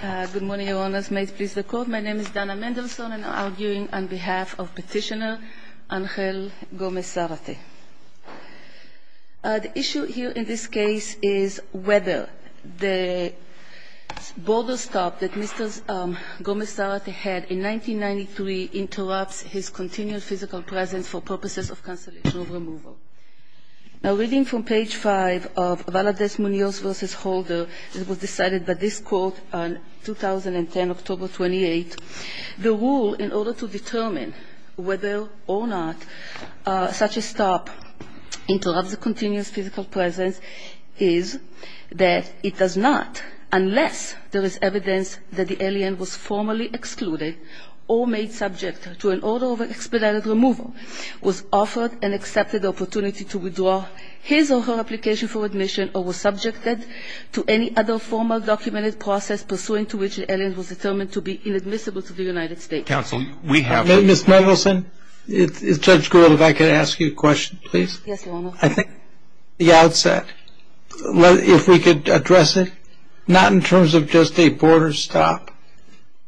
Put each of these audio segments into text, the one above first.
Good morning, Your Honors. May it please the Court, my name is Dana Mendelsohn and I'm arguing on behalf of Petitioner Angel Gomez Zarate. The issue here in this case is whether the border stop that Mr. Gomez Zarate had in 1993 interrupts his continual physical presence for purposes of cancellation of removal. Now, reading from page 5 of Valadez-Munoz v. Holder, it was decided by this Court on 2010, October 28, the rule in order to determine whether or not such a stop interrupts the continuous physical presence is that it does not, unless there is evidence that the alien was formally excluded or made subject to an order of expedited removal, was offered an accepted opportunity to withdraw his or her application for admission, or was subjected to any other formal documented process pursuing to which the alien was determined to be inadmissible to the United States. Counsel, we have... Ms. Mendelsohn, Judge Gould, if I could ask you a question, please. Yes, Your Honor. I think the outset, if we could address it, not in terms of just a border stop,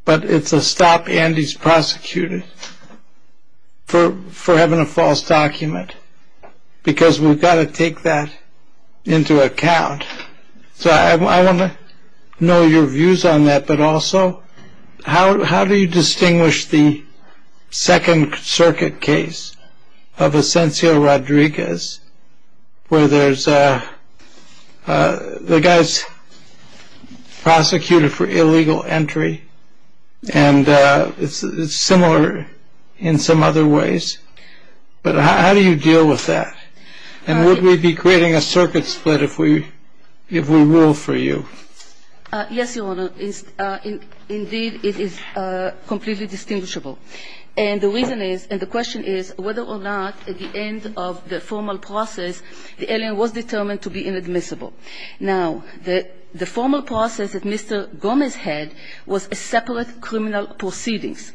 but it's a stop and he's prosecuted. For having a false document, because we've got to take that into account. So I want to know your views on that, but also how do you distinguish the Second Circuit case of Asencio Rodriguez, where the guy's prosecuted for illegal entry, and it's similar in some other ways, but how do you deal with that? And would we be creating a circuit split if we ruled for you? Yes, Your Honor. Indeed, it is completely distinguishable. And the reason is, and the question is, whether or not at the end of the formal process, the alien was determined to be inadmissible. Now, the formal process that Mr. Gomez had was a separate criminal proceedings,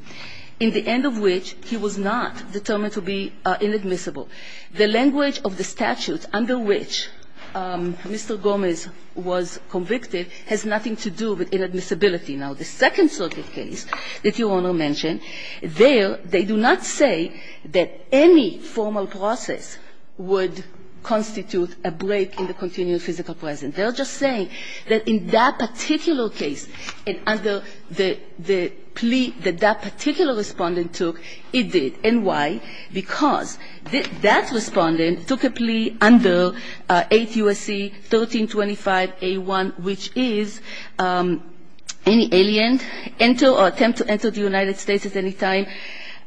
in the end of which he was not determined to be inadmissible. The language of the statute under which Mr. Gomez was convicted has nothing to do with inadmissibility. Now, the Second Circuit case that Your Honor mentioned, there they do not say that any formal process would constitute a break in the continued physical presence. They are just saying that in that particular case and under the plea that that particular respondent took, it did. And why? Because that respondent took a plea under 8 U.S.C. 1325A1, which is any alien enter or attempt to enter the United States at any time,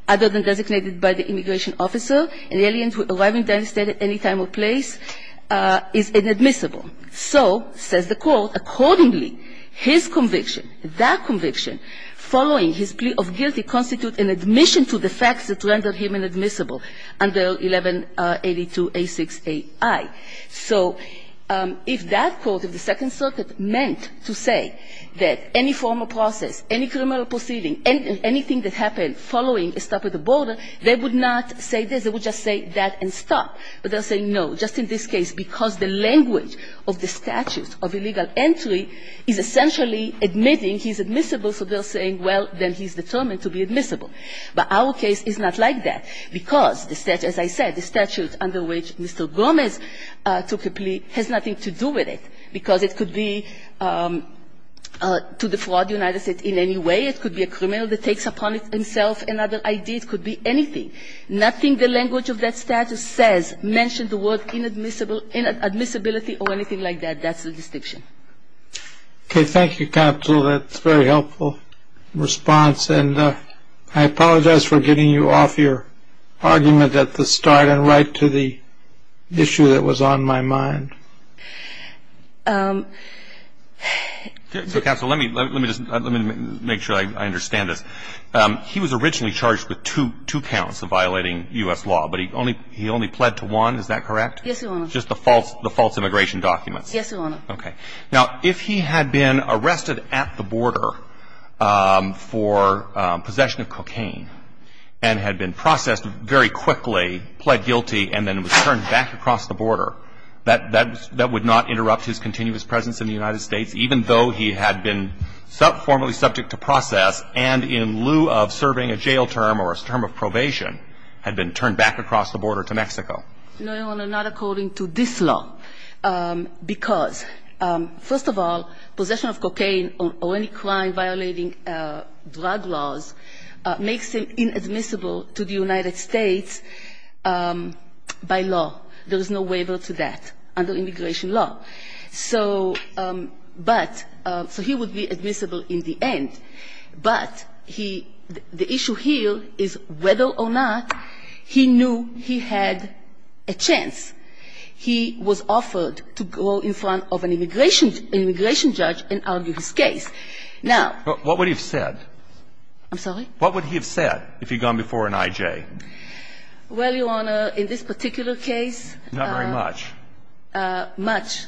other than designated by the immigration officer. An alien arriving in the United States at any time or place is inadmissible. So, says the court, accordingly, his conviction, that conviction, following his plea of guilty constitute an admission to the facts that rendered him inadmissible under 1182A6AI. So if that court of the Second Circuit meant to say that any formal process, any criminal proceeding, anything that happened following a stop at the border, they would not say this. They would just say that and stop. But they're saying no, just in this case, because the language of the statute of illegal entry is essentially admitting he's admissible. So they're saying, well, then he's determined to be admissible. But our case is not like that, because the statute, as I said, the statute under which Mr. Gomez took a plea has nothing to do with it, because it could be to defraud the United States in any way. It could be a criminal that takes upon himself another idea. It could be anything. Nothing the language of that statute says mention the word inadmissibility or anything like that. That's the distinction. Okay. Thank you, Counsel. That's a very helpful response. And I apologize for getting you off your argument at the start and right to the issue that was on my mind. Counsel, let me just make sure I understand this. He was originally charged with two counts of violating U.S. law, but he only pled to one. Is that correct? Yes, Your Honor. Just the false immigration documents. Yes, Your Honor. Okay. Now, if he had been arrested at the border for possession of cocaine and had been processed very quickly, pled guilty, and then was turned back across the border, that would not interrupt his continuous presence in the United States, even though he had been formally subject to process and in lieu of serving a jail term or a term of probation, had been turned back across the border to Mexico. No, Your Honor, not according to this law, because, first of all, possession of cocaine or any crime violating drug laws makes it inadmissible to the United States by law. There is no waiver to that under immigration law. So, but, so he would be admissible in the end. But he, the issue here is whether or not he knew he had a chance. He was offered to go in front of an immigration judge and argue his case. Now. What would he have said? I'm sorry? What would he have said if he had gone before an I.J.? Well, Your Honor, in this particular case. Not very much. Much.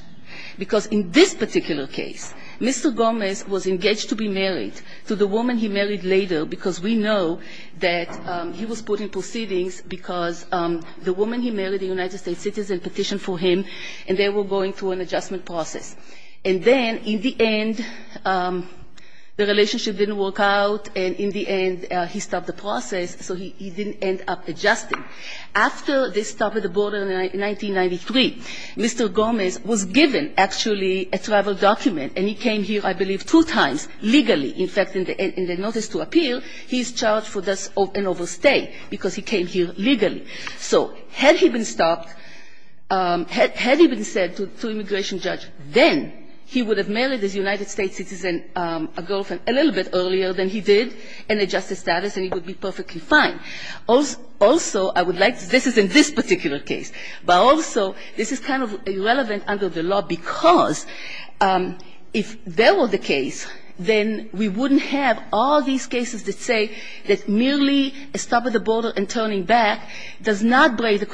Because in this particular case, Mr. Gomez was engaged to be married to the woman he married later, because we know that he was put in proceedings because the woman he married, a United States citizen, petitioned for him, and they were going through an adjustment process. And then, in the end, the relationship didn't work out, and in the end, he stopped the process, so he didn't end up adjusting. After they stopped the border in 1993, Mr. Gomez was given, actually, a travel document, and he came here, I believe, two times legally. In fact, in the notice to appear, he's charged for an overstay, because he came here legally. So had he been stopped, had he been said to an immigration judge, then he would have married this United States citizen, a girlfriend, a little bit earlier than he did, and adjusted status, and he would be perfectly fine. Also, I would like to say, this is in this particular case, but also, this is kind of irrelevant under the law, because if that were the case, then we wouldn't have all these cases that say that merely a stop at the border and turning back does not break the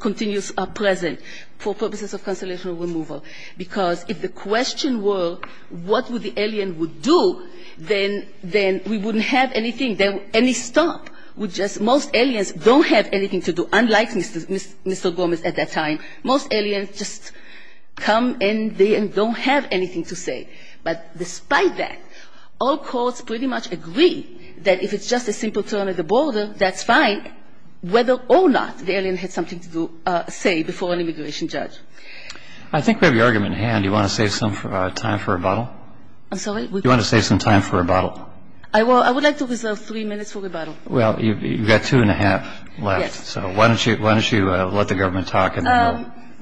continuous present for purposes of consolidation or removal. Because if the question were, what would the alien do, then we wouldn't have anything, any stop. We just, most aliens don't have anything to do, unlike Mr. Gomez at that time. Most aliens just come and they don't have anything to say. But despite that, all courts pretty much agree that if it's just a simple turn at the border, that's fine, whether or not the alien had something to say before an immigration judge. I think we have your argument in hand. Do you want to save some time for rebuttal? I'm sorry? Do you want to save some time for rebuttal? I would like to reserve three minutes for rebuttal. Well, you've got two and a half left, so why don't you let the government talk.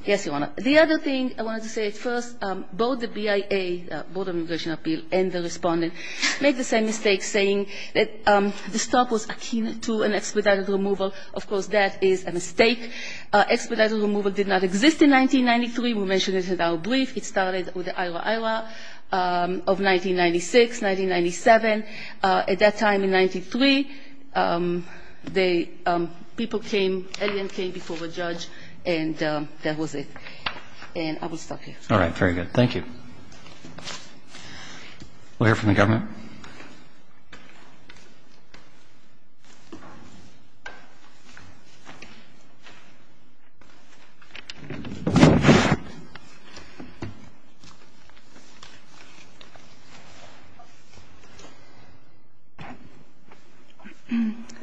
Yes, Your Honor. The other thing I wanted to say at first, both the BIA, Border Immigration Appeal, and the Respondent made the same mistake, saying that the stop was akin to an expedited removal. Of course, that is a mistake. Expedited removal did not exist in 1993. We mentioned it in our brief. It started with the IRA-IRA of 1996, 1997. At that time in 1993, the people came, alien came before the judge, and that was it. And I will stop here. All right, very good. Thank you. We'll hear from the government.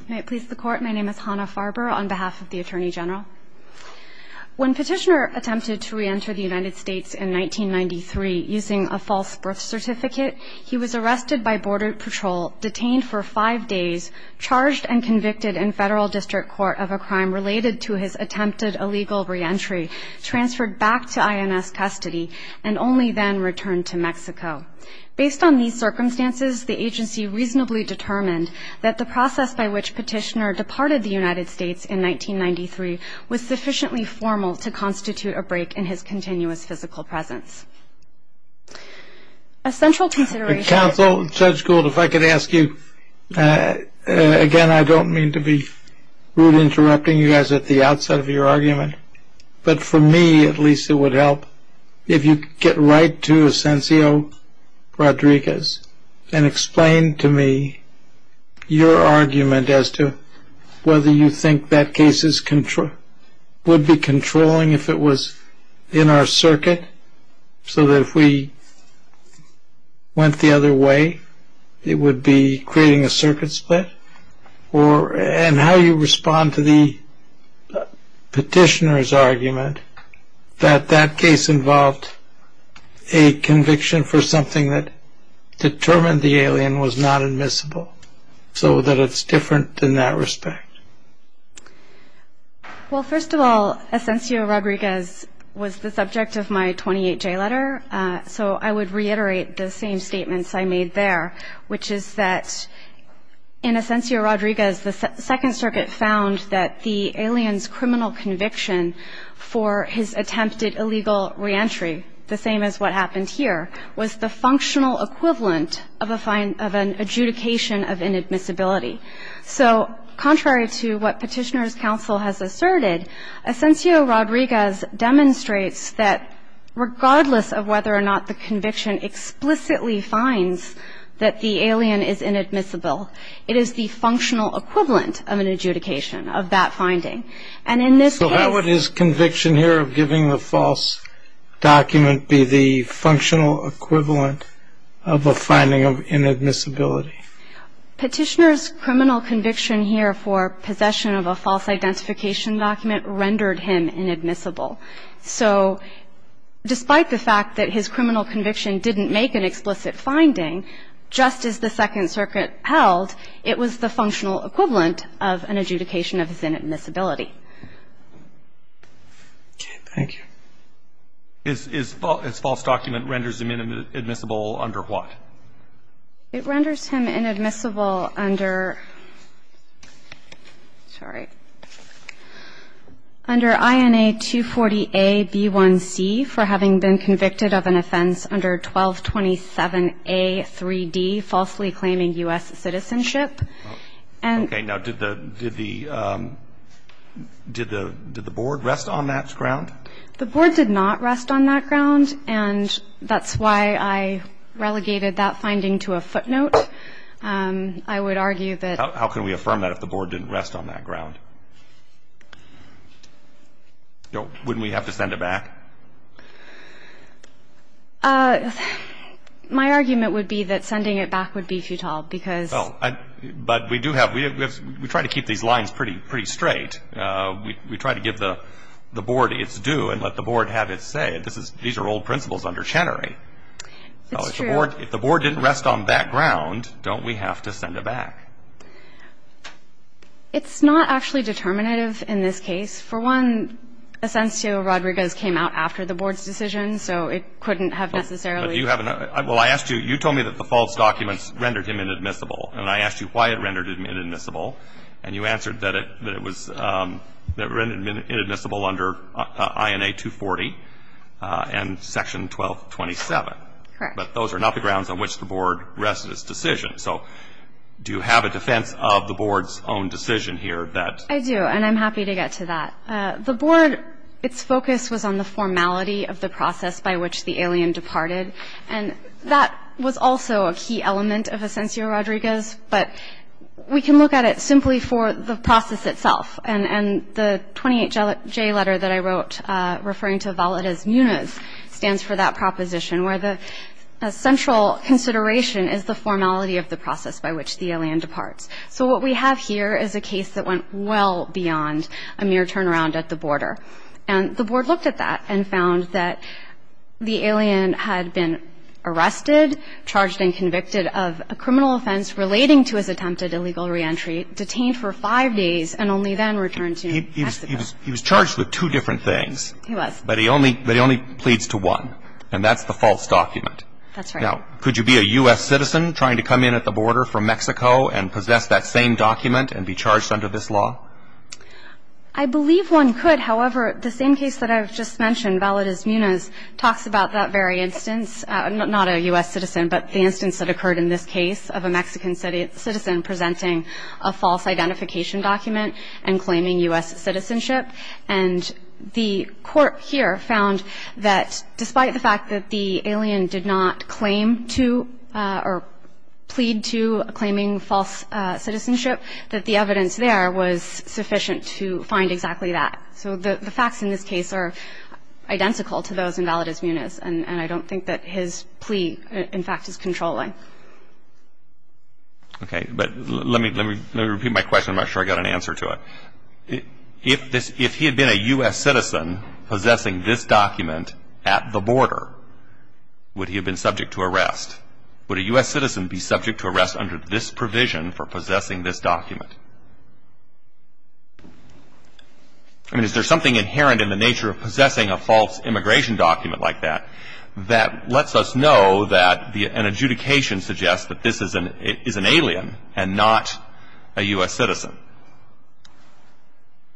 May it please the Court. My name is Hannah Farber on behalf of the Attorney General. When Petitioner attempted to reenter the United States in 1993 using a false birth certificate, he was arrested by Border Patrol, detained for five days, charged and convicted in Federal District Court of a crime related to his attempted illegal reentry, transferred back to INS custody, and only then returned to Mexico. Based on these circumstances, the agency reasonably determined that the process by which Petitioner departed the United States in 1993 was sufficiently formal to constitute a break in his continuous physical presence. A central consideration of the- Counsel, Judge Gould, if I could ask you, again, I don't mean to be rude interrupting you guys at the outset of your argument, but for me at least it would help. If you could get right to Asencio Rodriguez and explain to me your argument as to whether you think that case would be controlling if it was in our circuit, so that if we went the other way it would be creating a circuit split, and how you respond to the Petitioner's argument that that case involved a conviction for something that determined the alien was not admissible, so that it's different in that respect. Well, first of all, Asencio Rodriguez was the subject of my 28-J letter, so I would reiterate the same statements I made there, which is that in Asencio Rodriguez the Second Circuit found that the alien's criminal conviction for his attempted illegal reentry, the same as what happened here, was the functional equivalent of an adjudication of inadmissibility. So contrary to what Petitioner's counsel has asserted, Asencio Rodriguez demonstrates that regardless of whether or not the conviction explicitly finds that the alien is inadmissible, it is the functional equivalent of an adjudication of that finding. And in this case So how would his conviction here of giving the false document be the functional equivalent of a finding of inadmissibility? Petitioner's criminal conviction here for possession of a false identification document rendered him inadmissible. So despite the fact that his criminal conviction didn't make an explicit finding, just as the Second Circuit held, it was the functional equivalent of an adjudication of his inadmissibility. Okay. Thank you. Is false document renders him inadmissible under what? It renders him inadmissible under, sorry, under INA 240A-B1C for having been convicted of an offense under 1227A-3D, falsely claiming U.S. citizenship. Okay. Now, did the Board rest on that ground? The Board did not rest on that ground, and that's why I relegated that finding to a footnote. I would argue that How can we affirm that if the Board didn't rest on that ground? Wouldn't we have to send it back? My argument would be that sending it back would be futile because But we do have, we try to keep these lines pretty straight. We try to give the Board its due and let the Board have its say. These are old principles under Chenery. It's true. If the Board didn't rest on that ground, don't we have to send it back? It's not actually determinative in this case. For one, Asensio Rodriguez came out after the Board's decision, so it couldn't have necessarily Well, I asked you, you told me that the false documents rendered him inadmissible, and I asked you why it rendered him inadmissible, and you answered that it rendered him inadmissible under INA 240 and Section 1227. Correct. But those are not the grounds on which the Board rested its decision. So do you have a defense of the Board's own decision here that I do, and I'm happy to get to that. The Board, its focus was on the formality of the process by which the alien departed, and that was also a key element of Asensio Rodriguez. But we can look at it simply for the process itself, and the 28J letter that I wrote referring to Valdez Muniz stands for that proposition, where the central consideration is the formality of the process by which the alien departs. So what we have here is a case that went well beyond a mere turnaround at the border, and the Board looked at that and found that the alien had been arrested, charged and convicted of a criminal offense relating to his attempted illegal reentry, detained for five days, and only then returned to Mexico. He was charged with two different things. He was. But he only pleads to one, and that's the false document. That's right. Now, could you be a U.S. citizen trying to come in at the border from Mexico and possess that same document and be charged under this law? I believe one could. However, the same case that I've just mentioned, Valdez Muniz, talks about that very instance, not a U.S. citizen, but the instance that occurred in this case of a Mexican citizen presenting a false identification document and claiming U.S. citizenship. And the court here found that despite the fact that the alien did not claim to or plead to claiming false citizenship, that the evidence there was sufficient to find exactly that. So the facts in this case are identical to those in Valdez Muniz, and I don't think that his plea, in fact, is controlling. Okay. But let me repeat my question. I'm not sure I got an answer to it. If he had been a U.S. citizen possessing this document at the border, would he have been subject to arrest? Would a U.S. citizen be subject to arrest under this provision for possessing this document? I mean, is there something inherent in the nature of possessing a false immigration document like that that lets us know that an adjudication suggests that this is an alien and not a U.S. citizen?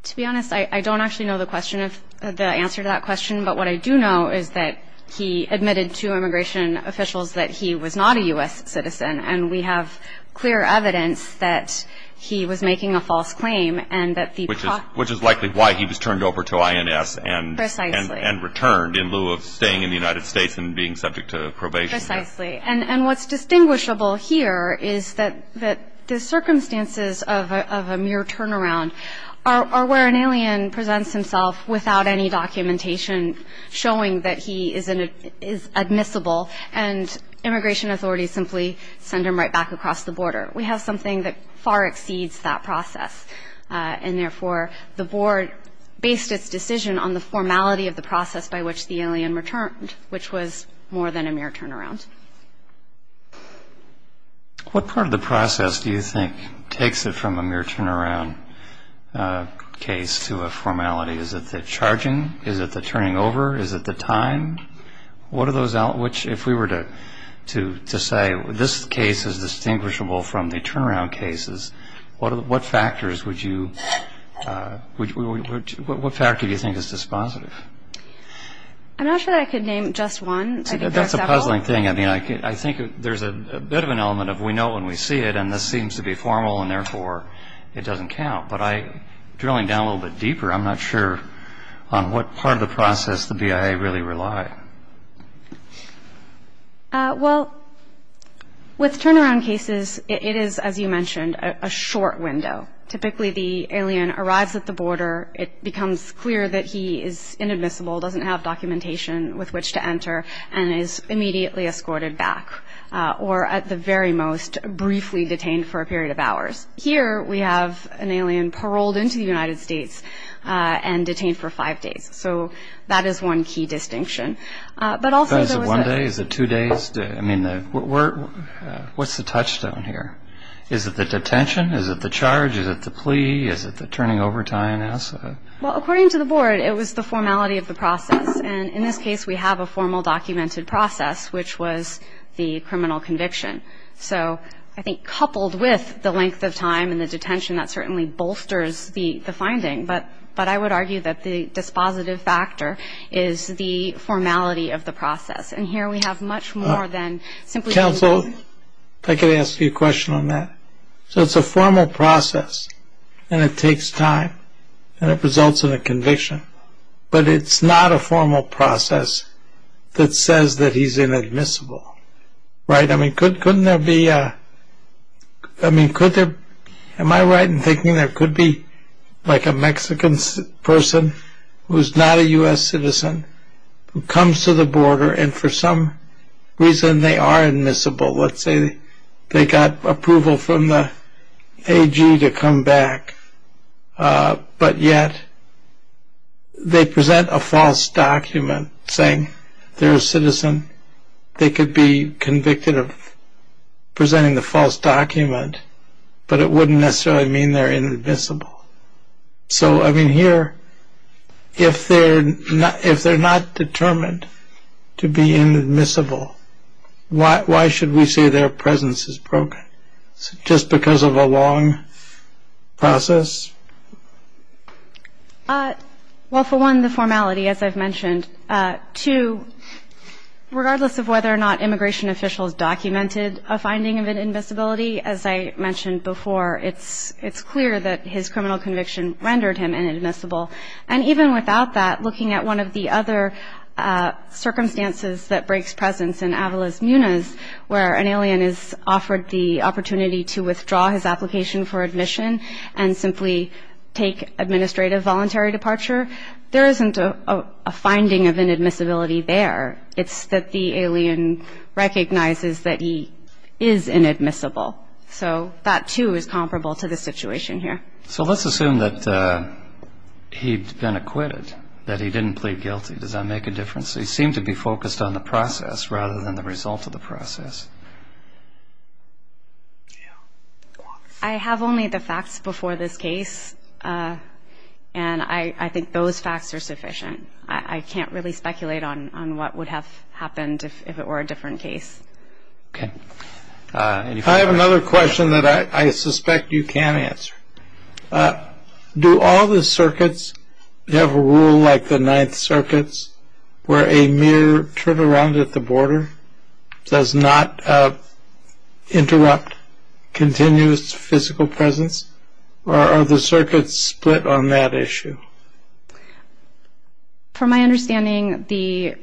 To be honest, I don't actually know the answer to that question, but what I do know is that he admitted to immigration officials that he was not a U.S. citizen, and we have clear evidence that he was making a false claim and that the process of his claim was false. Which is likely why he was turned over to INS and returned in lieu of staying in the United States and being subject to probation. Precisely. And what's distinguishable here is that the circumstances of a mere turnaround are where an alien presents himself without any documentation showing that he is admissible and immigration authorities simply send him right back across the border. We have something that far exceeds that process, and therefore the board based its decision on the formality of the process by which the alien returned, which was more than a mere turnaround. What part of the process do you think takes it from a mere turnaround case to a formality? Is it the charging? Is it the turning over? Is it the time? What are those elements? If we were to say this case is distinguishable from the turnaround cases, what factors would you, what factor do you think is dispositive? I'm not sure that I could name just one. I think there are several. It's a puzzling thing. I mean, I think there's a bit of an element of we know when we see it, and this seems to be formal, and therefore it doesn't count. But drilling down a little bit deeper, I'm not sure on what part of the process the BIA really rely. Well, with turnaround cases, it is, as you mentioned, a short window. Typically the alien arrives at the border. It becomes clear that he is inadmissible, doesn't have documentation with which to enter, and is immediately escorted back or, at the very most, briefly detained for a period of hours. Here we have an alien paroled into the United States and detained for five days. So that is one key distinction. But also there was a- Is it one day? Is it two days? I mean, what's the touchstone here? Is it the detention? Is it the charge? Is it the plea? Is it the turning over to INS? Well, according to the board, it was the formality of the process. And in this case, we have a formal documented process, which was the criminal conviction. So I think coupled with the length of time and the detention, that certainly bolsters the finding. But I would argue that the dispositive factor is the formality of the process. And here we have much more than simply- Counsel, if I could ask you a question on that. So it's a formal process, and it takes time, and it results in a conviction. But it's not a formal process that says that he's inadmissible, right? I mean, couldn't there be- I mean, could there- Am I right in thinking there could be like a Mexican person who is not a U.S. citizen who comes to the border and for some reason they are admissible? Let's say they got approval from the AG to come back. But yet they present a false document saying they're a citizen. They could be convicted of presenting the false document, but it wouldn't necessarily mean they're inadmissible. So, I mean, here, if they're not determined to be inadmissible, why should we say their presence is broken? Just because of a long process? Well, for one, the formality, as I've mentioned. Two, regardless of whether or not immigration officials documented a finding of inadmissibility, as I mentioned before, it's clear that his criminal conviction rendered him inadmissible. And even without that, looking at one of the other circumstances that breaks presence in Avalos-Muniz, where an alien is offered the opportunity to withdraw his application for admission and simply take administrative voluntary departure, there isn't a finding of inadmissibility there. It's that the alien recognizes that he is inadmissible. So that, too, is comparable to the situation here. So let's assume that he'd been acquitted, that he didn't plead guilty. Does that make a difference? He seemed to be focused on the process rather than the result of the process. I have only the facts before this case, and I think those facts are sufficient. I can't really speculate on what would have happened if it were a different case. Okay. I have another question that I suspect you can answer. Do all the circuits have a rule like the Ninth Circuits where a mere turnaround at the border does not interrupt continuous physical presence, or are the circuits split on that issue? From my understanding, the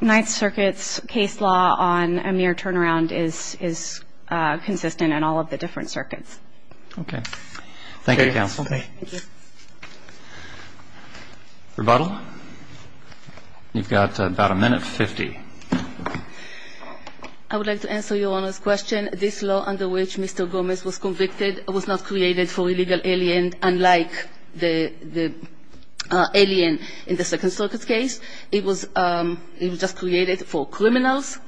Ninth Circuits case law on a mere turnaround is consistent in all of the different circuits. Okay. Thank you, counsel. Thank you. Rebuttal? You've got about a minute and 50. I would like to answer Your Honor's question. This law under which Mr. Gomez was convicted was not created for illegal aliens and unlike the alien in the Second Circuit's case. It was just created for criminals.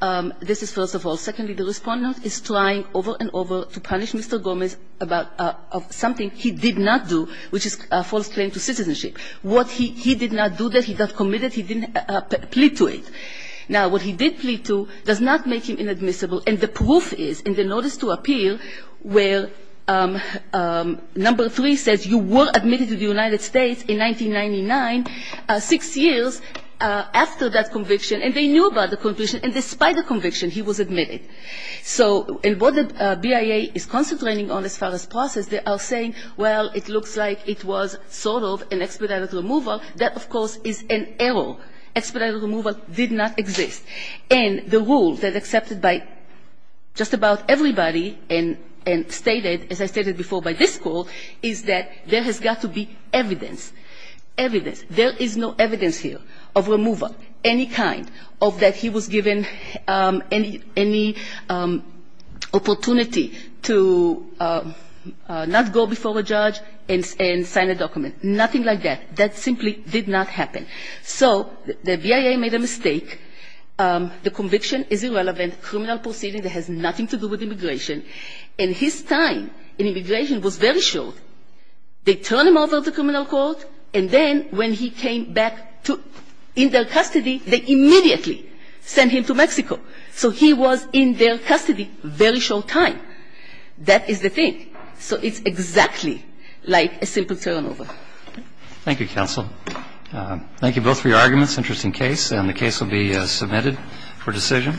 This is first of all. Secondly, the Respondent is trying over and over to punish Mr. Gomez about something he did not do, which is a false claim to citizenship. What he did not do, that he got committed, he didn't plead to it. Now, what he did plead to does not make him inadmissible, and the proof is in the notice to appear where number three says, you were admitted to the United States in 1999, six years after that conviction, and they knew about the conviction, and despite the conviction, he was admitted. So what the BIA is concentrating on as far as process, they are saying, well, it looks like it was sort of an expedited removal. That, of course, is an error. Expedited removal did not exist. And the rule that is accepted by just about everybody and stated, as I stated before by this Court, is that there has got to be evidence. Evidence. There is no evidence here of removal, any kind, of that he was given any opportunity to not go before a judge and sign a document. Nothing like that. That simply did not happen. So the BIA made a mistake. The conviction is irrelevant, criminal proceeding that has nothing to do with immigration, and his time in immigration was very short. They turn him over to criminal court, and then when he came back to their custody, they immediately sent him to Mexico. So he was in their custody a very short time. That is the thing. So it's exactly like a simple turnover. Thank you, Counsel. Thank you both for your arguments. Interesting case. And the case will be submitted for decision.